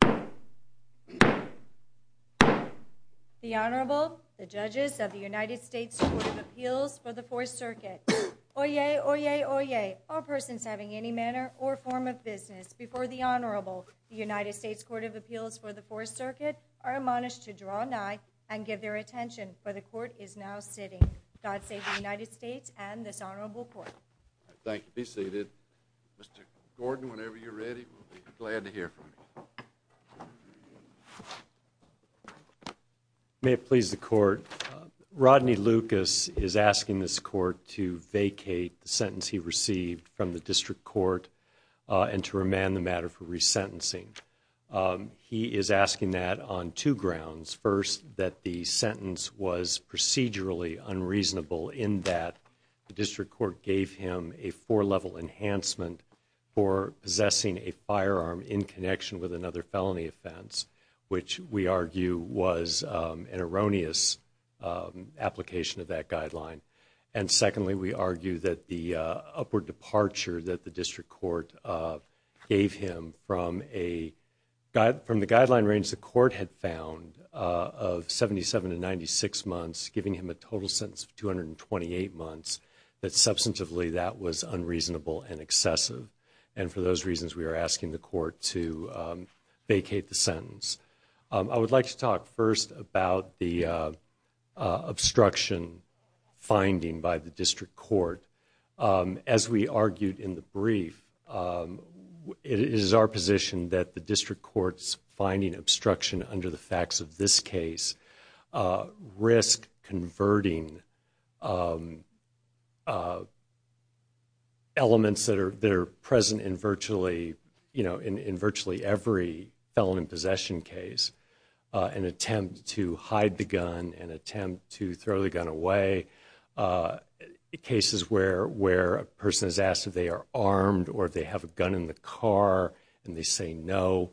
The Honorable, the judges of the United States Court of Appeals for the Fourth Circuit. Oyez! Oyez! Oyez! All persons having any manner or form of business before the Honorable, the United States Court of Appeals for the Fourth Circuit, are admonished to draw nigh and give their attention, for the Court is now sitting. God save the United States and this Honorable Court. Thank you. Be seated. Mr. Gordon, whenever you're ready, we'll be glad to hear from you. May it please the Court. Rodney Lucas is asking this Court to vacate the sentence he received from the District Court and to remand the matter for resentencing. He is asking that on two grounds. First, that the sentence was procedurally unreasonable in that the District Court gave him a four-level enhancement for possessing a firearm in connection with another felony offense, which we argue was an erroneous application of that guideline. And secondly, we argue that the upward departure that the District Court gave him from the guideline range the Court had found of 77 to 96 months, giving him a total sentence of 228 months, that substantively that was unreasonable and excessive. And for those reasons, we are asking the Court to vacate the sentence. I would like to talk first about the obstruction finding by the District Court. As we argued in the brief, it is our position that the District Court's finding obstruction under the facts of this case risk converting elements that are present in virtually every felony possession case, an attempt to hide the gun, an attempt to throw the gun away, cases where a person is asked if they are armed or if they have a gun in the car and they say no.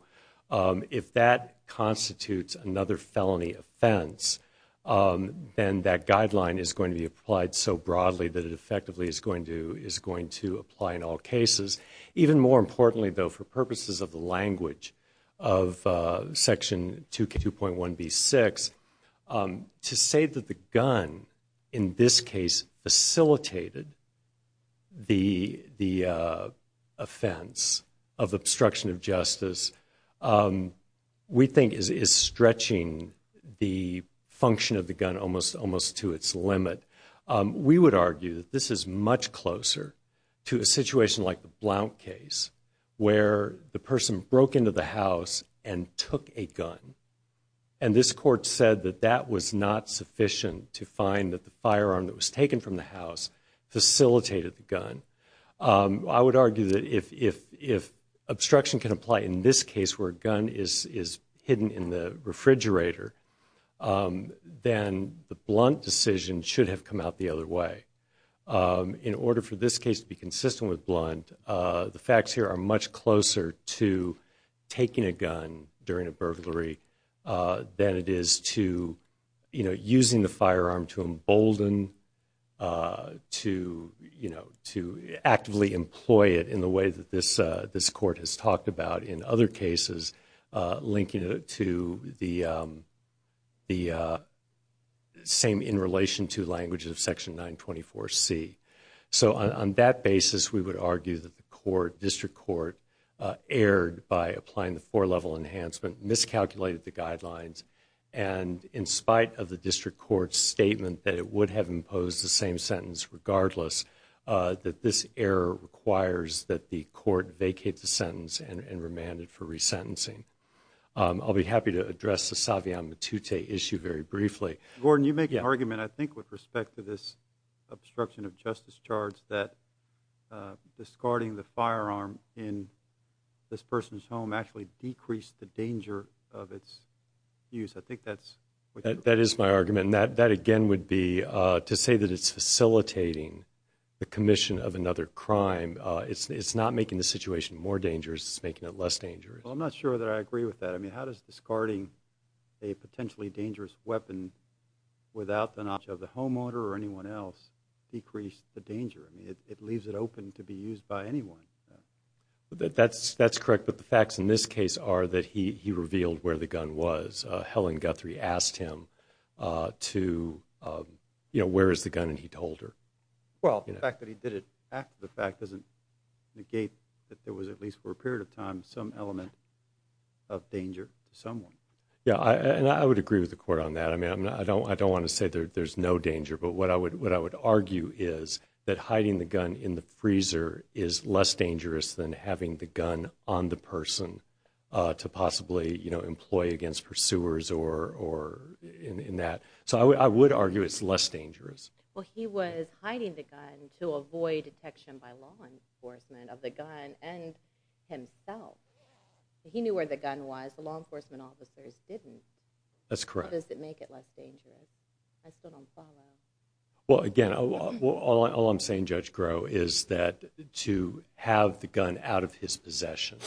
If that constitutes another felony offense, then that guideline is going to be applied so broadly that it effectively is going to apply in all cases. Even more importantly, though, for purposes of the language of Section 2.1b6, to say that the gun in this case facilitated the offense of obstruction of justice, we think is stretching the function of the gun almost to its limit. We would argue that this is much closer to a situation like the Blount case, where the person broke into the house and took a gun. And this court said that that was not sufficient to find that the firearm that was taken from the house facilitated the gun. I would argue that if obstruction can apply in this case where a gun is hidden in the refrigerator, then the Blount decision should have come out the other way. In order for this case to be consistent with Blount, the facts here are much closer to taking a gun during a burglary than it is to using the firearm to embolden, to actively employ it in the way that this court has talked about in other cases, linking it to the same in relation to language of Section 924C. So on that basis, we would argue that the court, District Court, erred by applying the four-level enhancement, miscalculated the guidelines, and in spite of the District Court's statement that it would have imposed the same sentence regardless, that this error requires that the court vacate the sentence and remand it for resentencing. I'll be happy to address the Saviano-Matute issue very briefly. Gordon, you make an argument, I think, with respect to this obstruction of justice charge that discarding the firearm in this person's home actually decreased the danger of its use. I think that's what you're saying. That is my argument, and that again would be to say that it's facilitating the commission of another crime. It's not making the situation more dangerous. It's making it less dangerous. Well, I'm not sure that I agree with that. I mean, how does discarding a potentially dangerous weapon without the knowledge of the homeowner or anyone else decrease the danger? I mean, it leaves it open to be used by anyone. That's correct, but the facts in this case are that he revealed where the gun was. Helen Guthrie asked him to, you know, where is the gun, and he told her. Well, the fact that he did it after the fact doesn't negate that there was, at least for a period of time, some element of danger to someone. Yeah, and I would agree with the court on that. I mean, I don't want to say there's no danger, but what I would argue is that hiding the gun in the freezer is less dangerous than having the gun on the person to possibly, you know, employ against pursuers or in that. So I would argue it's less dangerous. Well, he was hiding the gun to avoid detection by law enforcement of the gun, and himself, he knew where the gun was. The law enforcement officers didn't. That's correct. How does it make it less dangerous? I still don't follow. Well, again, all I'm saying, Judge Groh, is that to have the gun out of his possession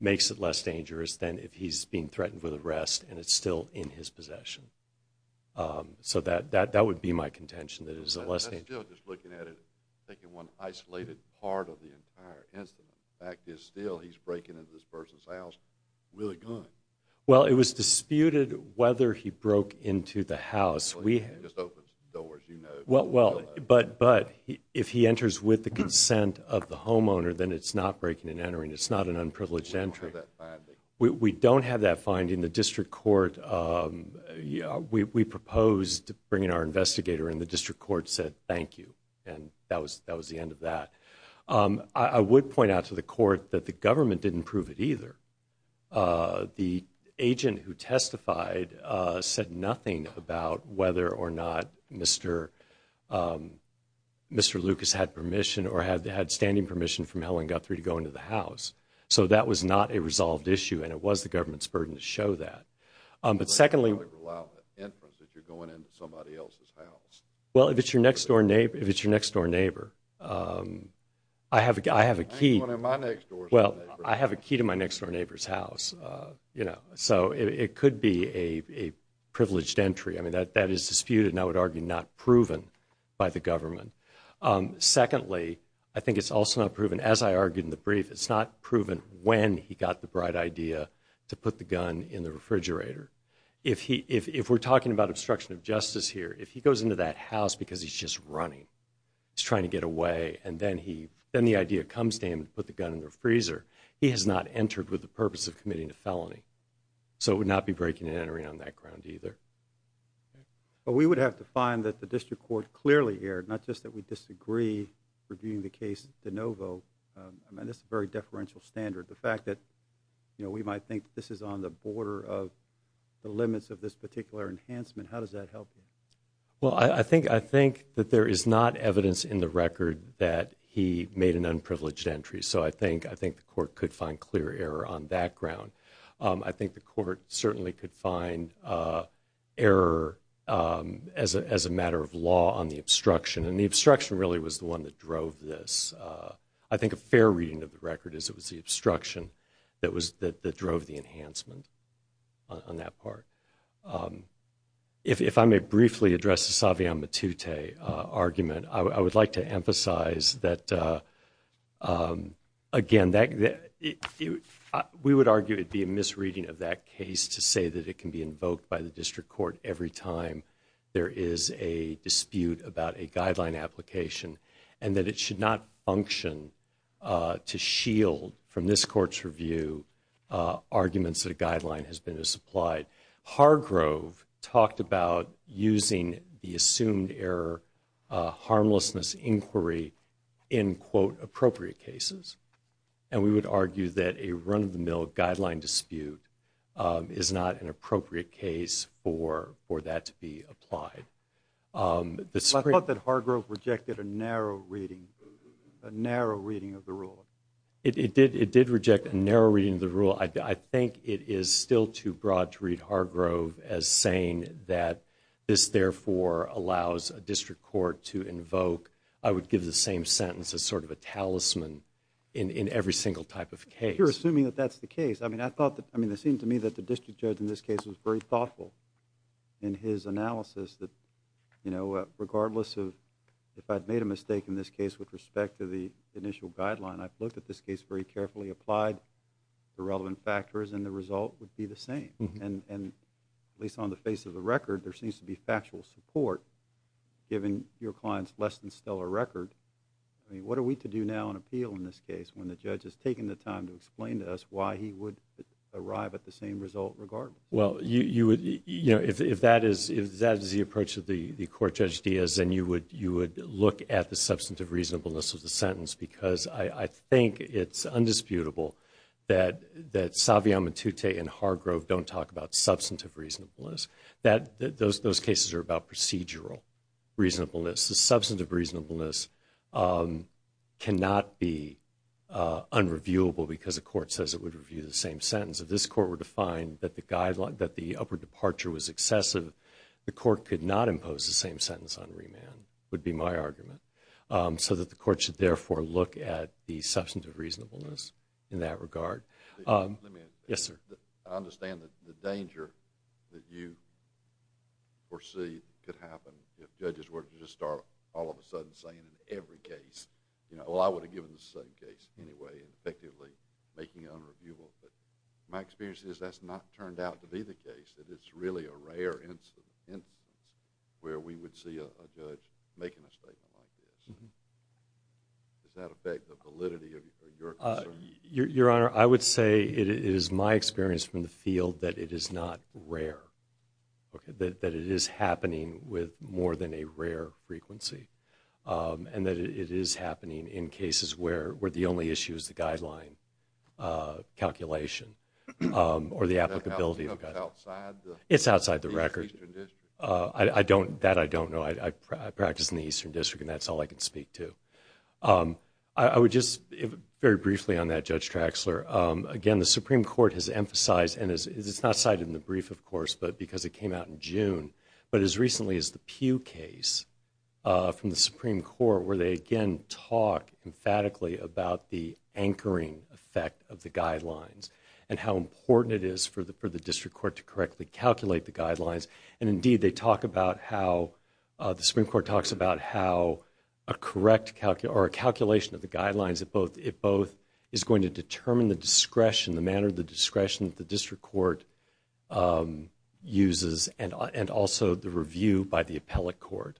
makes it less dangerous than if he's being threatened with arrest and it's still in his possession. So that would be my contention, that it is less dangerous. I'm still just looking at it, thinking one isolated part of the entire incident. The fact is, still, he's breaking into this person's house with a gun. Well, it was disputed whether he broke into the house. He just opens the doors, you know. Well, but if he enters with the consent of the homeowner, then it's not breaking and entering. It's not an unprivileged entry. We don't have that finding. The District Court, we proposed bringing our investigator, and the District Court said, thank you, and that was the end of that. I would point out to the Court that the government didn't prove it either. The agent who testified said nothing about whether or not Mr. Lucas had permission or had standing permission from Helen Guthrie to go into the house. So that was not a resolved issue and it was the government's burden to show that. But secondly, You don't really rely on the inference that you're going into somebody else's house. Well, if it's your next-door neighbor, I have a key to my next-door neighbor's house. So it could be a privileged entry. I mean, that is disputed and I would argue not proven by the government. Secondly, I think it's also not proven, as I argued in the brief, it's not proven when he got the bright idea to put the gun in the refrigerator. If we're talking about obstruction of justice here, if he goes into that house because he's just running, he's trying to get away, and then the idea comes to him to put the gun in the freezer, he has not entered with the purpose of committing a felony. So it would not be breaking and entering on that ground either. But we would have to find that the District Court clearly here, not just that we disagree reviewing the case de novo. I mean, that's a very deferential standard. The fact that we might think this is on the border of the limits of this particular enhancement, how does that help? Well, I think that there is not evidence in the record that he made an unprivileged entry. So I think the court could find clear error on that ground. I think the court certainly could find error as a matter of law on the obstruction. And the obstruction really was the one that drove this. I think a fair reading of the record is it was the obstruction that drove the enhancement on that part. If I may briefly address the Saviano-Matute argument, I would like to emphasize that, again, we would argue it would be a misreading of that case to say that it can be invoked by the District Court every time there is a dispute about a guideline application and that it should not function to shield from this court's review arguments that a guideline has been supplied. Hargrove talked about using the assumed error harmlessness inquiry in, quote, appropriate cases. And we would argue that a run-of-the-mill guideline dispute is not an appropriate case for that to be applied. I thought that Hargrove rejected a narrow reading, a narrow reading of the rule. It did reject a narrow reading of the rule. I think it is still too broad to read Hargrove as saying that this, therefore, allows a District Court to invoke, I would give the same sentence as sort of a talisman in every single type of case. You're assuming that that's the case. I mean, it seemed to me that the District Judge in this case was very thoughtful in his analysis that, you know, regardless of if I'd made a mistake in this case with respect to the initial guideline, I've looked at this case very carefully, applied the relevant factors, and the result would be the same. And at least on the face of the record, there seems to be factual support, given your client's less-than-stellar record. I mean, what are we to do now on appeal in this case when the judge has taken the time to explain to us why he would arrive at the same result regardless? Well, you would, you know, if that is the approach that the Court Judge Diaz, then you would look at the substantive reasonableness of the sentence, because I think it's undisputable that Saviano, Matute, and Hargrove don't talk about substantive reasonableness. Those cases are about procedural reasonableness. The substantive reasonableness cannot be unreviewable because the Court says it would review the same sentence. If this Court were to find that the upper departure was excessive, the Court could not impose the same sentence on remand, would be my argument, so that the Court should therefore look at the substantive reasonableness in that regard. Let me add. Yes, sir. I understand the danger that you foresee could happen if judges were to just start all of a sudden saying in every case, you know, well, I would have given the same case anyway and effectively making it unreviewable. But my experience is that's not turned out to be the case, that it's really a rare instance where we would see a judge making a statement like this. Does that affect the validity of your concern? Your Honor, I would say it is my experience from the field that it is not rare, that it is happening with more than a rare frequency, and that it is happening in cases where the only issue is the guideline calculation or the applicability of the guideline. Is that outside the Eastern District? That I don't know. I practice in the Eastern District, and that's all I can speak to. I would just very briefly on that, Judge Traxler. Again, the Supreme Court has emphasized, and it's not cited in the brief, of course, but because it came out in June, but as recently as the Pew case from the Supreme Court, where they, again, talk emphatically about the anchoring effect of the guidelines and how important it is for the District Court to correctly calculate the guidelines. And, indeed, they talk about how the Supreme Court talks about how a calculation of the guidelines, it both is going to determine the discretion, the manner of the discretion that the District Court uses, and also the review by the appellate court.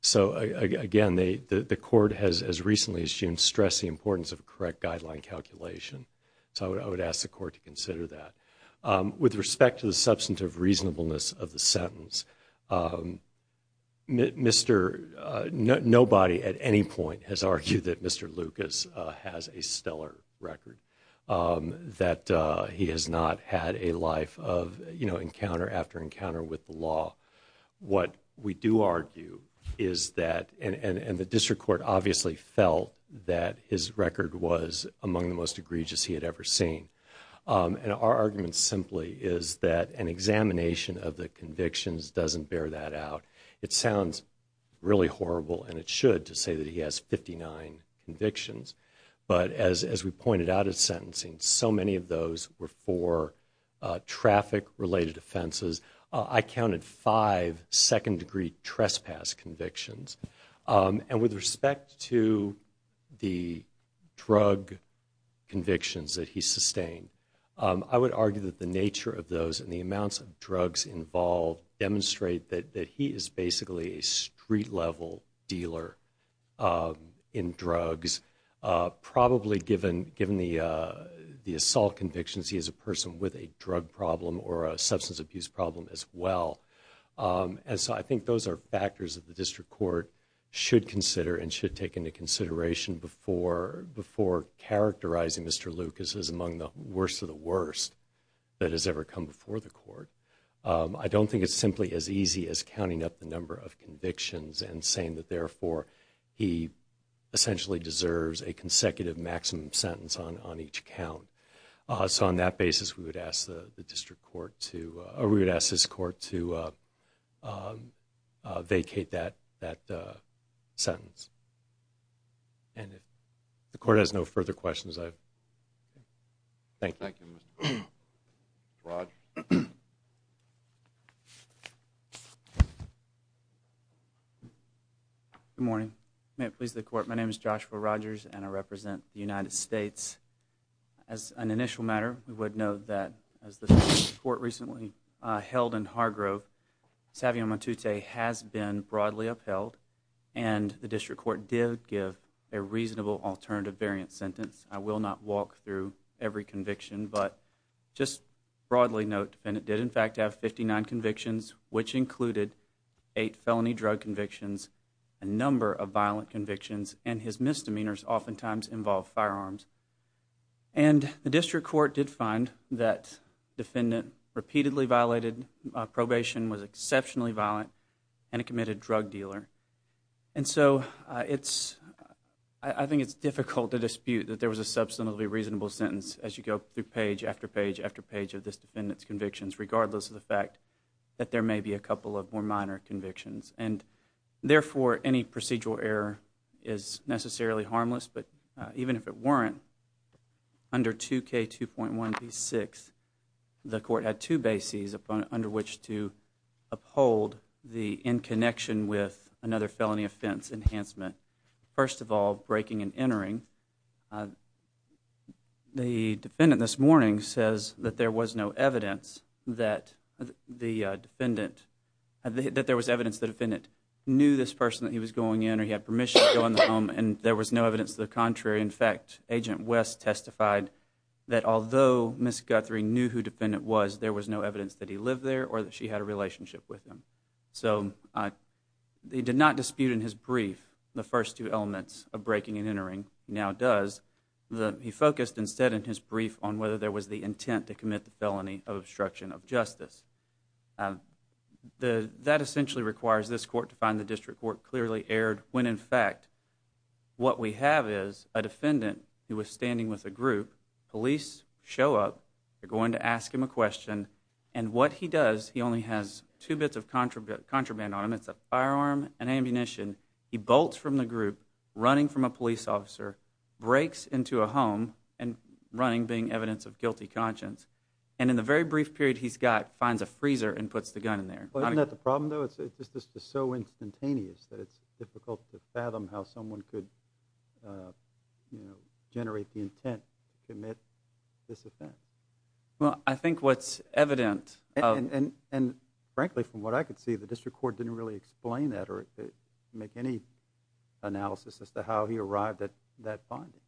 So, again, the court has, as recently as June, stressed the importance of a correct guideline calculation. So I would ask the court to consider that. With respect to the substantive reasonableness of the sentence, nobody at any point has argued that Mr. Lucas has a stellar record, that he has not had a life of encounter after encounter with the law. What we do argue is that, and the District Court obviously felt that his record was among the most egregious he had ever seen. And our argument simply is that an examination of the convictions doesn't bear that out. It sounds really horrible, and it should, to say that he has 59 convictions. But as we pointed out at sentencing, so many of those were for traffic-related offenses. I counted five second-degree trespass convictions. And with respect to the drug convictions that he sustained, I would argue that the nature of those and the amounts of drugs involved demonstrate that he is basically a street-level dealer in drugs, probably given the assault convictions, he is a person with a drug problem or a substance abuse problem as well. And so I think those are factors that the District Court should consider and should take into consideration before characterizing Mr. Lucas as among the worst of the worst that has ever come before the court. I don't think it's simply as easy as counting up the number of convictions and saying that, therefore, he essentially deserves a consecutive maximum sentence on each count. So on that basis, we would ask the District Court to, or we would ask this court to vacate that sentence. And if the court has no further questions, I thank you. Thank you, Mr. Rogers. Mr. Rogers? Good morning. May it please the Court, my name is Joshua Rogers, and I represent the United States. As an initial matter, we would note that as the District Court recently held in Hargrove, Savion Matute has been broadly upheld, and the District Court did give a reasonable alternative variant sentence. I will not walk through every conviction, but just broadly note, the defendant did in fact have 59 convictions, which included 8 felony drug convictions, a number of violent convictions, and his misdemeanors oftentimes involved firearms. And the District Court did find that the defendant repeatedly violated probation, was exceptionally violent, and a committed drug dealer. And so I think it's difficult to dispute that there was a substantively reasonable sentence as you go through page after page after page of this defendant's convictions, regardless of the fact that there may be a couple of more minor convictions. And therefore, any procedural error is necessarily harmless. But even if it weren't, under 2K2.1b6, the Court had two bases under which to uphold the in connection with another felony offense enhancement. First of all, breaking and entering. The defendant this morning says that there was no evidence that the defendant, that there was evidence that the defendant knew this person that he was going in, or he had permission to go in the home, and there was no evidence to the contrary. In fact, Agent West testified that although Ms. Guthrie knew who the defendant was, there was no evidence that he lived there or that she had a relationship with him. So he did not dispute in his brief the first two elements of breaking and entering. He now does. He focused instead in his brief on whether there was the intent to commit the felony of obstruction of justice. That essentially requires this Court to find the district court clearly erred when in fact what we have is a defendant who was standing with a group, police show up, they're going to ask him a question, and what he does, he only has two bits of contraband on him. It's a firearm and ammunition. He bolts from the group, running from a police officer, breaks into a home, and running being evidence of guilty conscience. And in the very brief period he's got, finds a freezer and puts the gun in there. Isn't that the problem, though? It's just so instantaneous that it's difficult to fathom how someone could generate the intent to commit this offense. Well, I think what's evident... And frankly, from what I could see, the district court didn't really explain that or make any analysis as to how he arrived at that finding.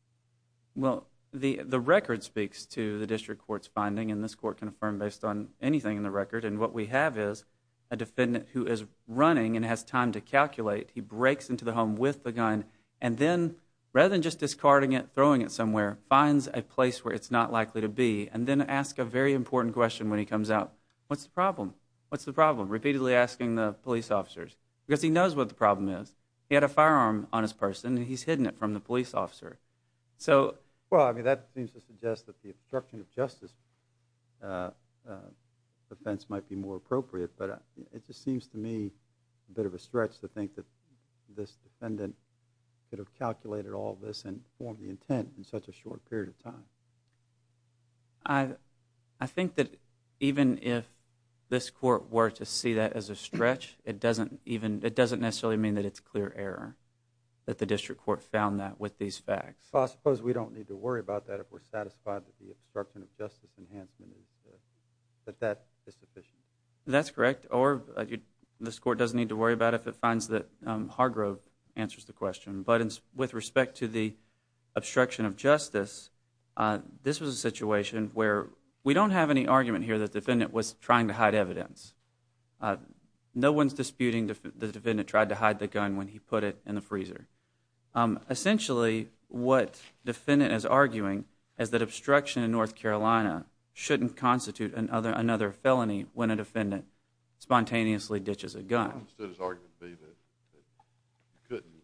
Well, the record speaks to the district court's finding, and this Court can affirm based on anything in the record. And what we have is a defendant who is running and has time to calculate. He breaks into the home with the gun and then, rather than just discarding it, throwing it somewhere, finds a place where it's not likely to be and then asks a very important question when he comes out. What's the problem? What's the problem? Repeatedly asking the police officers, because he knows what the problem is. He had a firearm on his person, and he's hidden it from the police officer. So... Well, I mean, that seems to suggest that the obstruction of justice offense might be more appropriate, but it just seems to me a bit of a stretch to think that this defendant could have calculated all this and formed the intent in such a short period of time. I think that even if this court were to see that as a stretch, it doesn't necessarily mean that it's clear error that the district court found that with these facts. Well, I suppose we don't need to worry about that if we're satisfied that the obstruction of justice enhancement is sufficient. That's correct. Or this court doesn't need to worry about it if it finds that Hargrove answers the question. But with respect to the obstruction of justice, this was a situation where we don't have any argument here that the defendant was trying to hide evidence. No one's disputing the defendant tried to hide the gun when he put it in the freezer. Essentially, what the defendant is arguing is that obstruction in North Carolina shouldn't constitute another felony when a defendant spontaneously ditches a gun. I understood his argument to be that you couldn't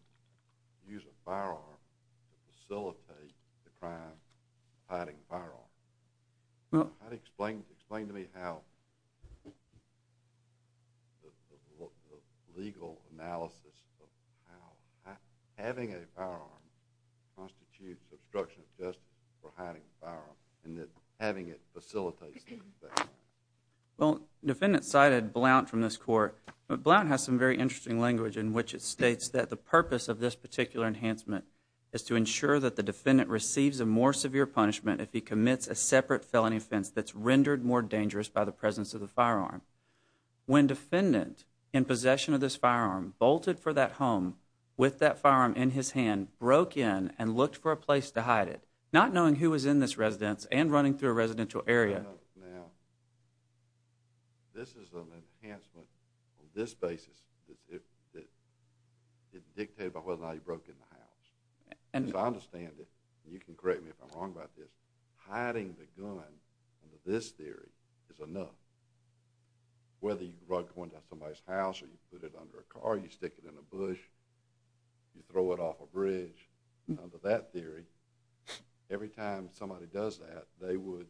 use a firearm to facilitate the crime of hiding a firearm. Explain to me how the legal analysis of how having a firearm constitutes obstruction of justice for hiding a firearm and that having it facilitates that. Well, the defendant cited Blount from this court. But Blount has some very interesting language in which it states that the purpose of this particular enhancement is to ensure that the defendant receives a more severe punishment if he commits a separate felony offense that's rendered more dangerous by the presence of the firearm. When defendant, in possession of this firearm, bolted for that home with that firearm in his hand, broke in and looked for a place to hide it, not knowing who was in this residence and running through a residential area. Now, this is an enhancement on this basis that dictated by whether or not he broke in the house. As I understand it, and you can correct me if I'm wrong about this, hiding the gun under this theory is enough. Whether you brought it to somebody's house or you put it under a car, you stick it in a bush, you throw it off a bridge, under that theory, every time somebody does that, they would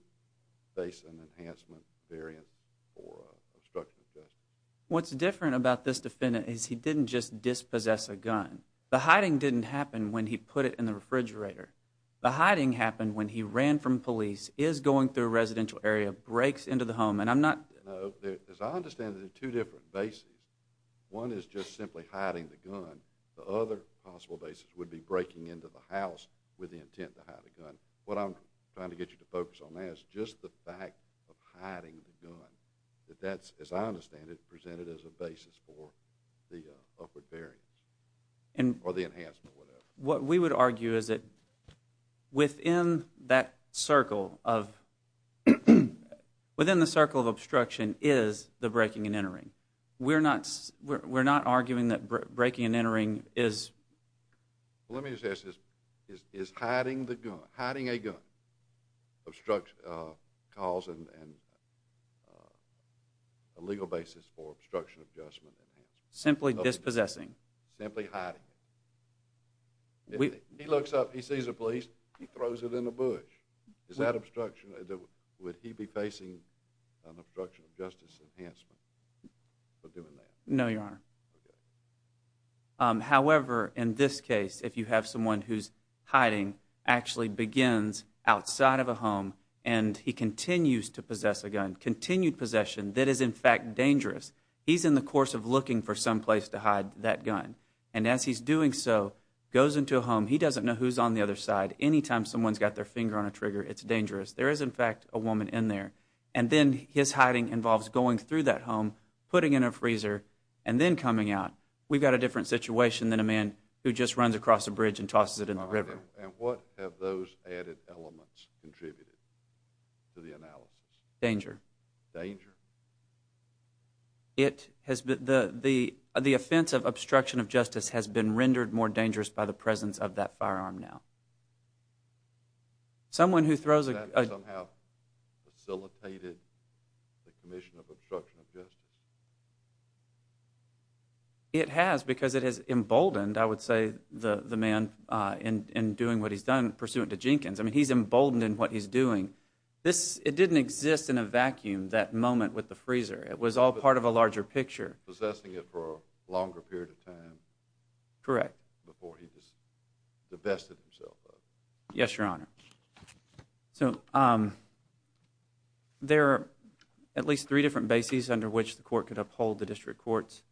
face an enhancement variance for obstruction of justice. What's different about this defendant is he didn't just dispossess a gun. The hiding didn't happen when he put it in the refrigerator. The hiding happened when he ran from police, is going through a residential area, breaks into the home, and I'm not... No, as I understand it, there are two different bases. One is just simply hiding the gun. The other possible basis would be breaking into the house with the intent to hide the gun. What I'm trying to get you to focus on now is just the fact of hiding the gun, that that's, as I understand it, presented as a basis for the upward variance or the enhancement, whatever. What we would argue is that within that circle of... Within the circle of obstruction is the breaking and entering. We're not arguing that breaking and entering is... Well, let me just ask this. Is hiding a gun a legal basis for obstruction of justice? Simply dispossessing. Simply hiding it. He looks up, he sees a police, he throws it in the bush. Is that obstruction... Would he be facing an obstruction of justice enhancement for doing that? No, Your Honor. However, in this case, if you have someone who's hiding, actually begins outside of a home and he continues to possess a gun, continued possession that is, in fact, dangerous, he's in the course of looking for some place to hide that gun. And as he's doing so, goes into a home, he doesn't know who's on the other side. Anytime someone's got their finger on a trigger, it's dangerous. There is, in fact, a woman in there. And then his hiding involves going through that home, putting in a freezer, and then coming out. We've got a different situation than a man who just runs across a bridge and tosses it in the river. And what have those added elements contributed to the analysis? Danger. Danger. The offense of obstruction of justice has been rendered more dangerous by the presence of that firearm now. Someone who throws a gun... Has that somehow facilitated the commission of obstruction of justice? It has, because it has emboldened, I would say, the man in doing what he's done, pursuant to Jenkins. I mean, he's emboldened in what he's doing. It didn't exist in a vacuum, that moment with the freezer. It was all part of a larger picture. Possessing it for a longer period of time... Correct. ...before he just divested himself of it. Yes, Your Honor. So there are at least three different bases under which the court could uphold the district court's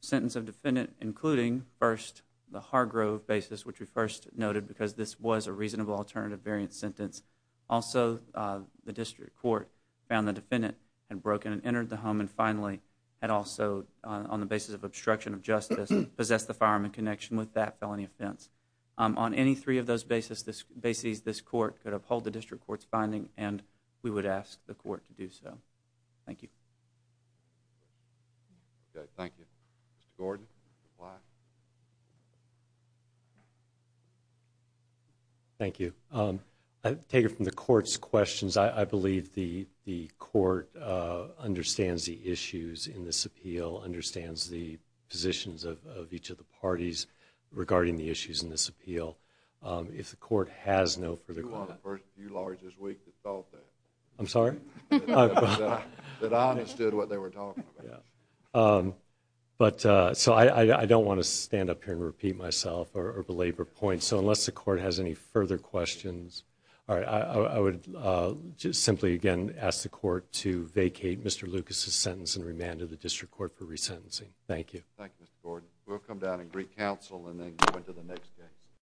sentence of defendant, including, first, the Hargrove basis, which we first noted, because this was a reasonable alternative variant sentence. Also, the district court found the defendant had broken and entered the home and finally had also, on the basis of obstruction of justice, possessed the firearm in connection with that felony offense. On any three of those bases, this court could uphold the district court's finding, and we would ask the court to do so. Thank you. Thank you. Mr. Gordon? Thank you. I take it from the court's questions. I believe the court understands the issues in this appeal, understands the positions of each of the parties regarding the issues in this appeal. If the court has no further comments... You're one of the few lawyers this week that thought that. I'm sorry? That I understood what they were talking about. So I don't want to stand up here and repeat myself or belabor points, so unless the court has any further questions, ask the court to vacate Mr. Lucas's sentence and remand him to the district court for resentencing. Thank you. Thank you, Mr. Gordon. We'll come down and greet counsel and then go into the next case.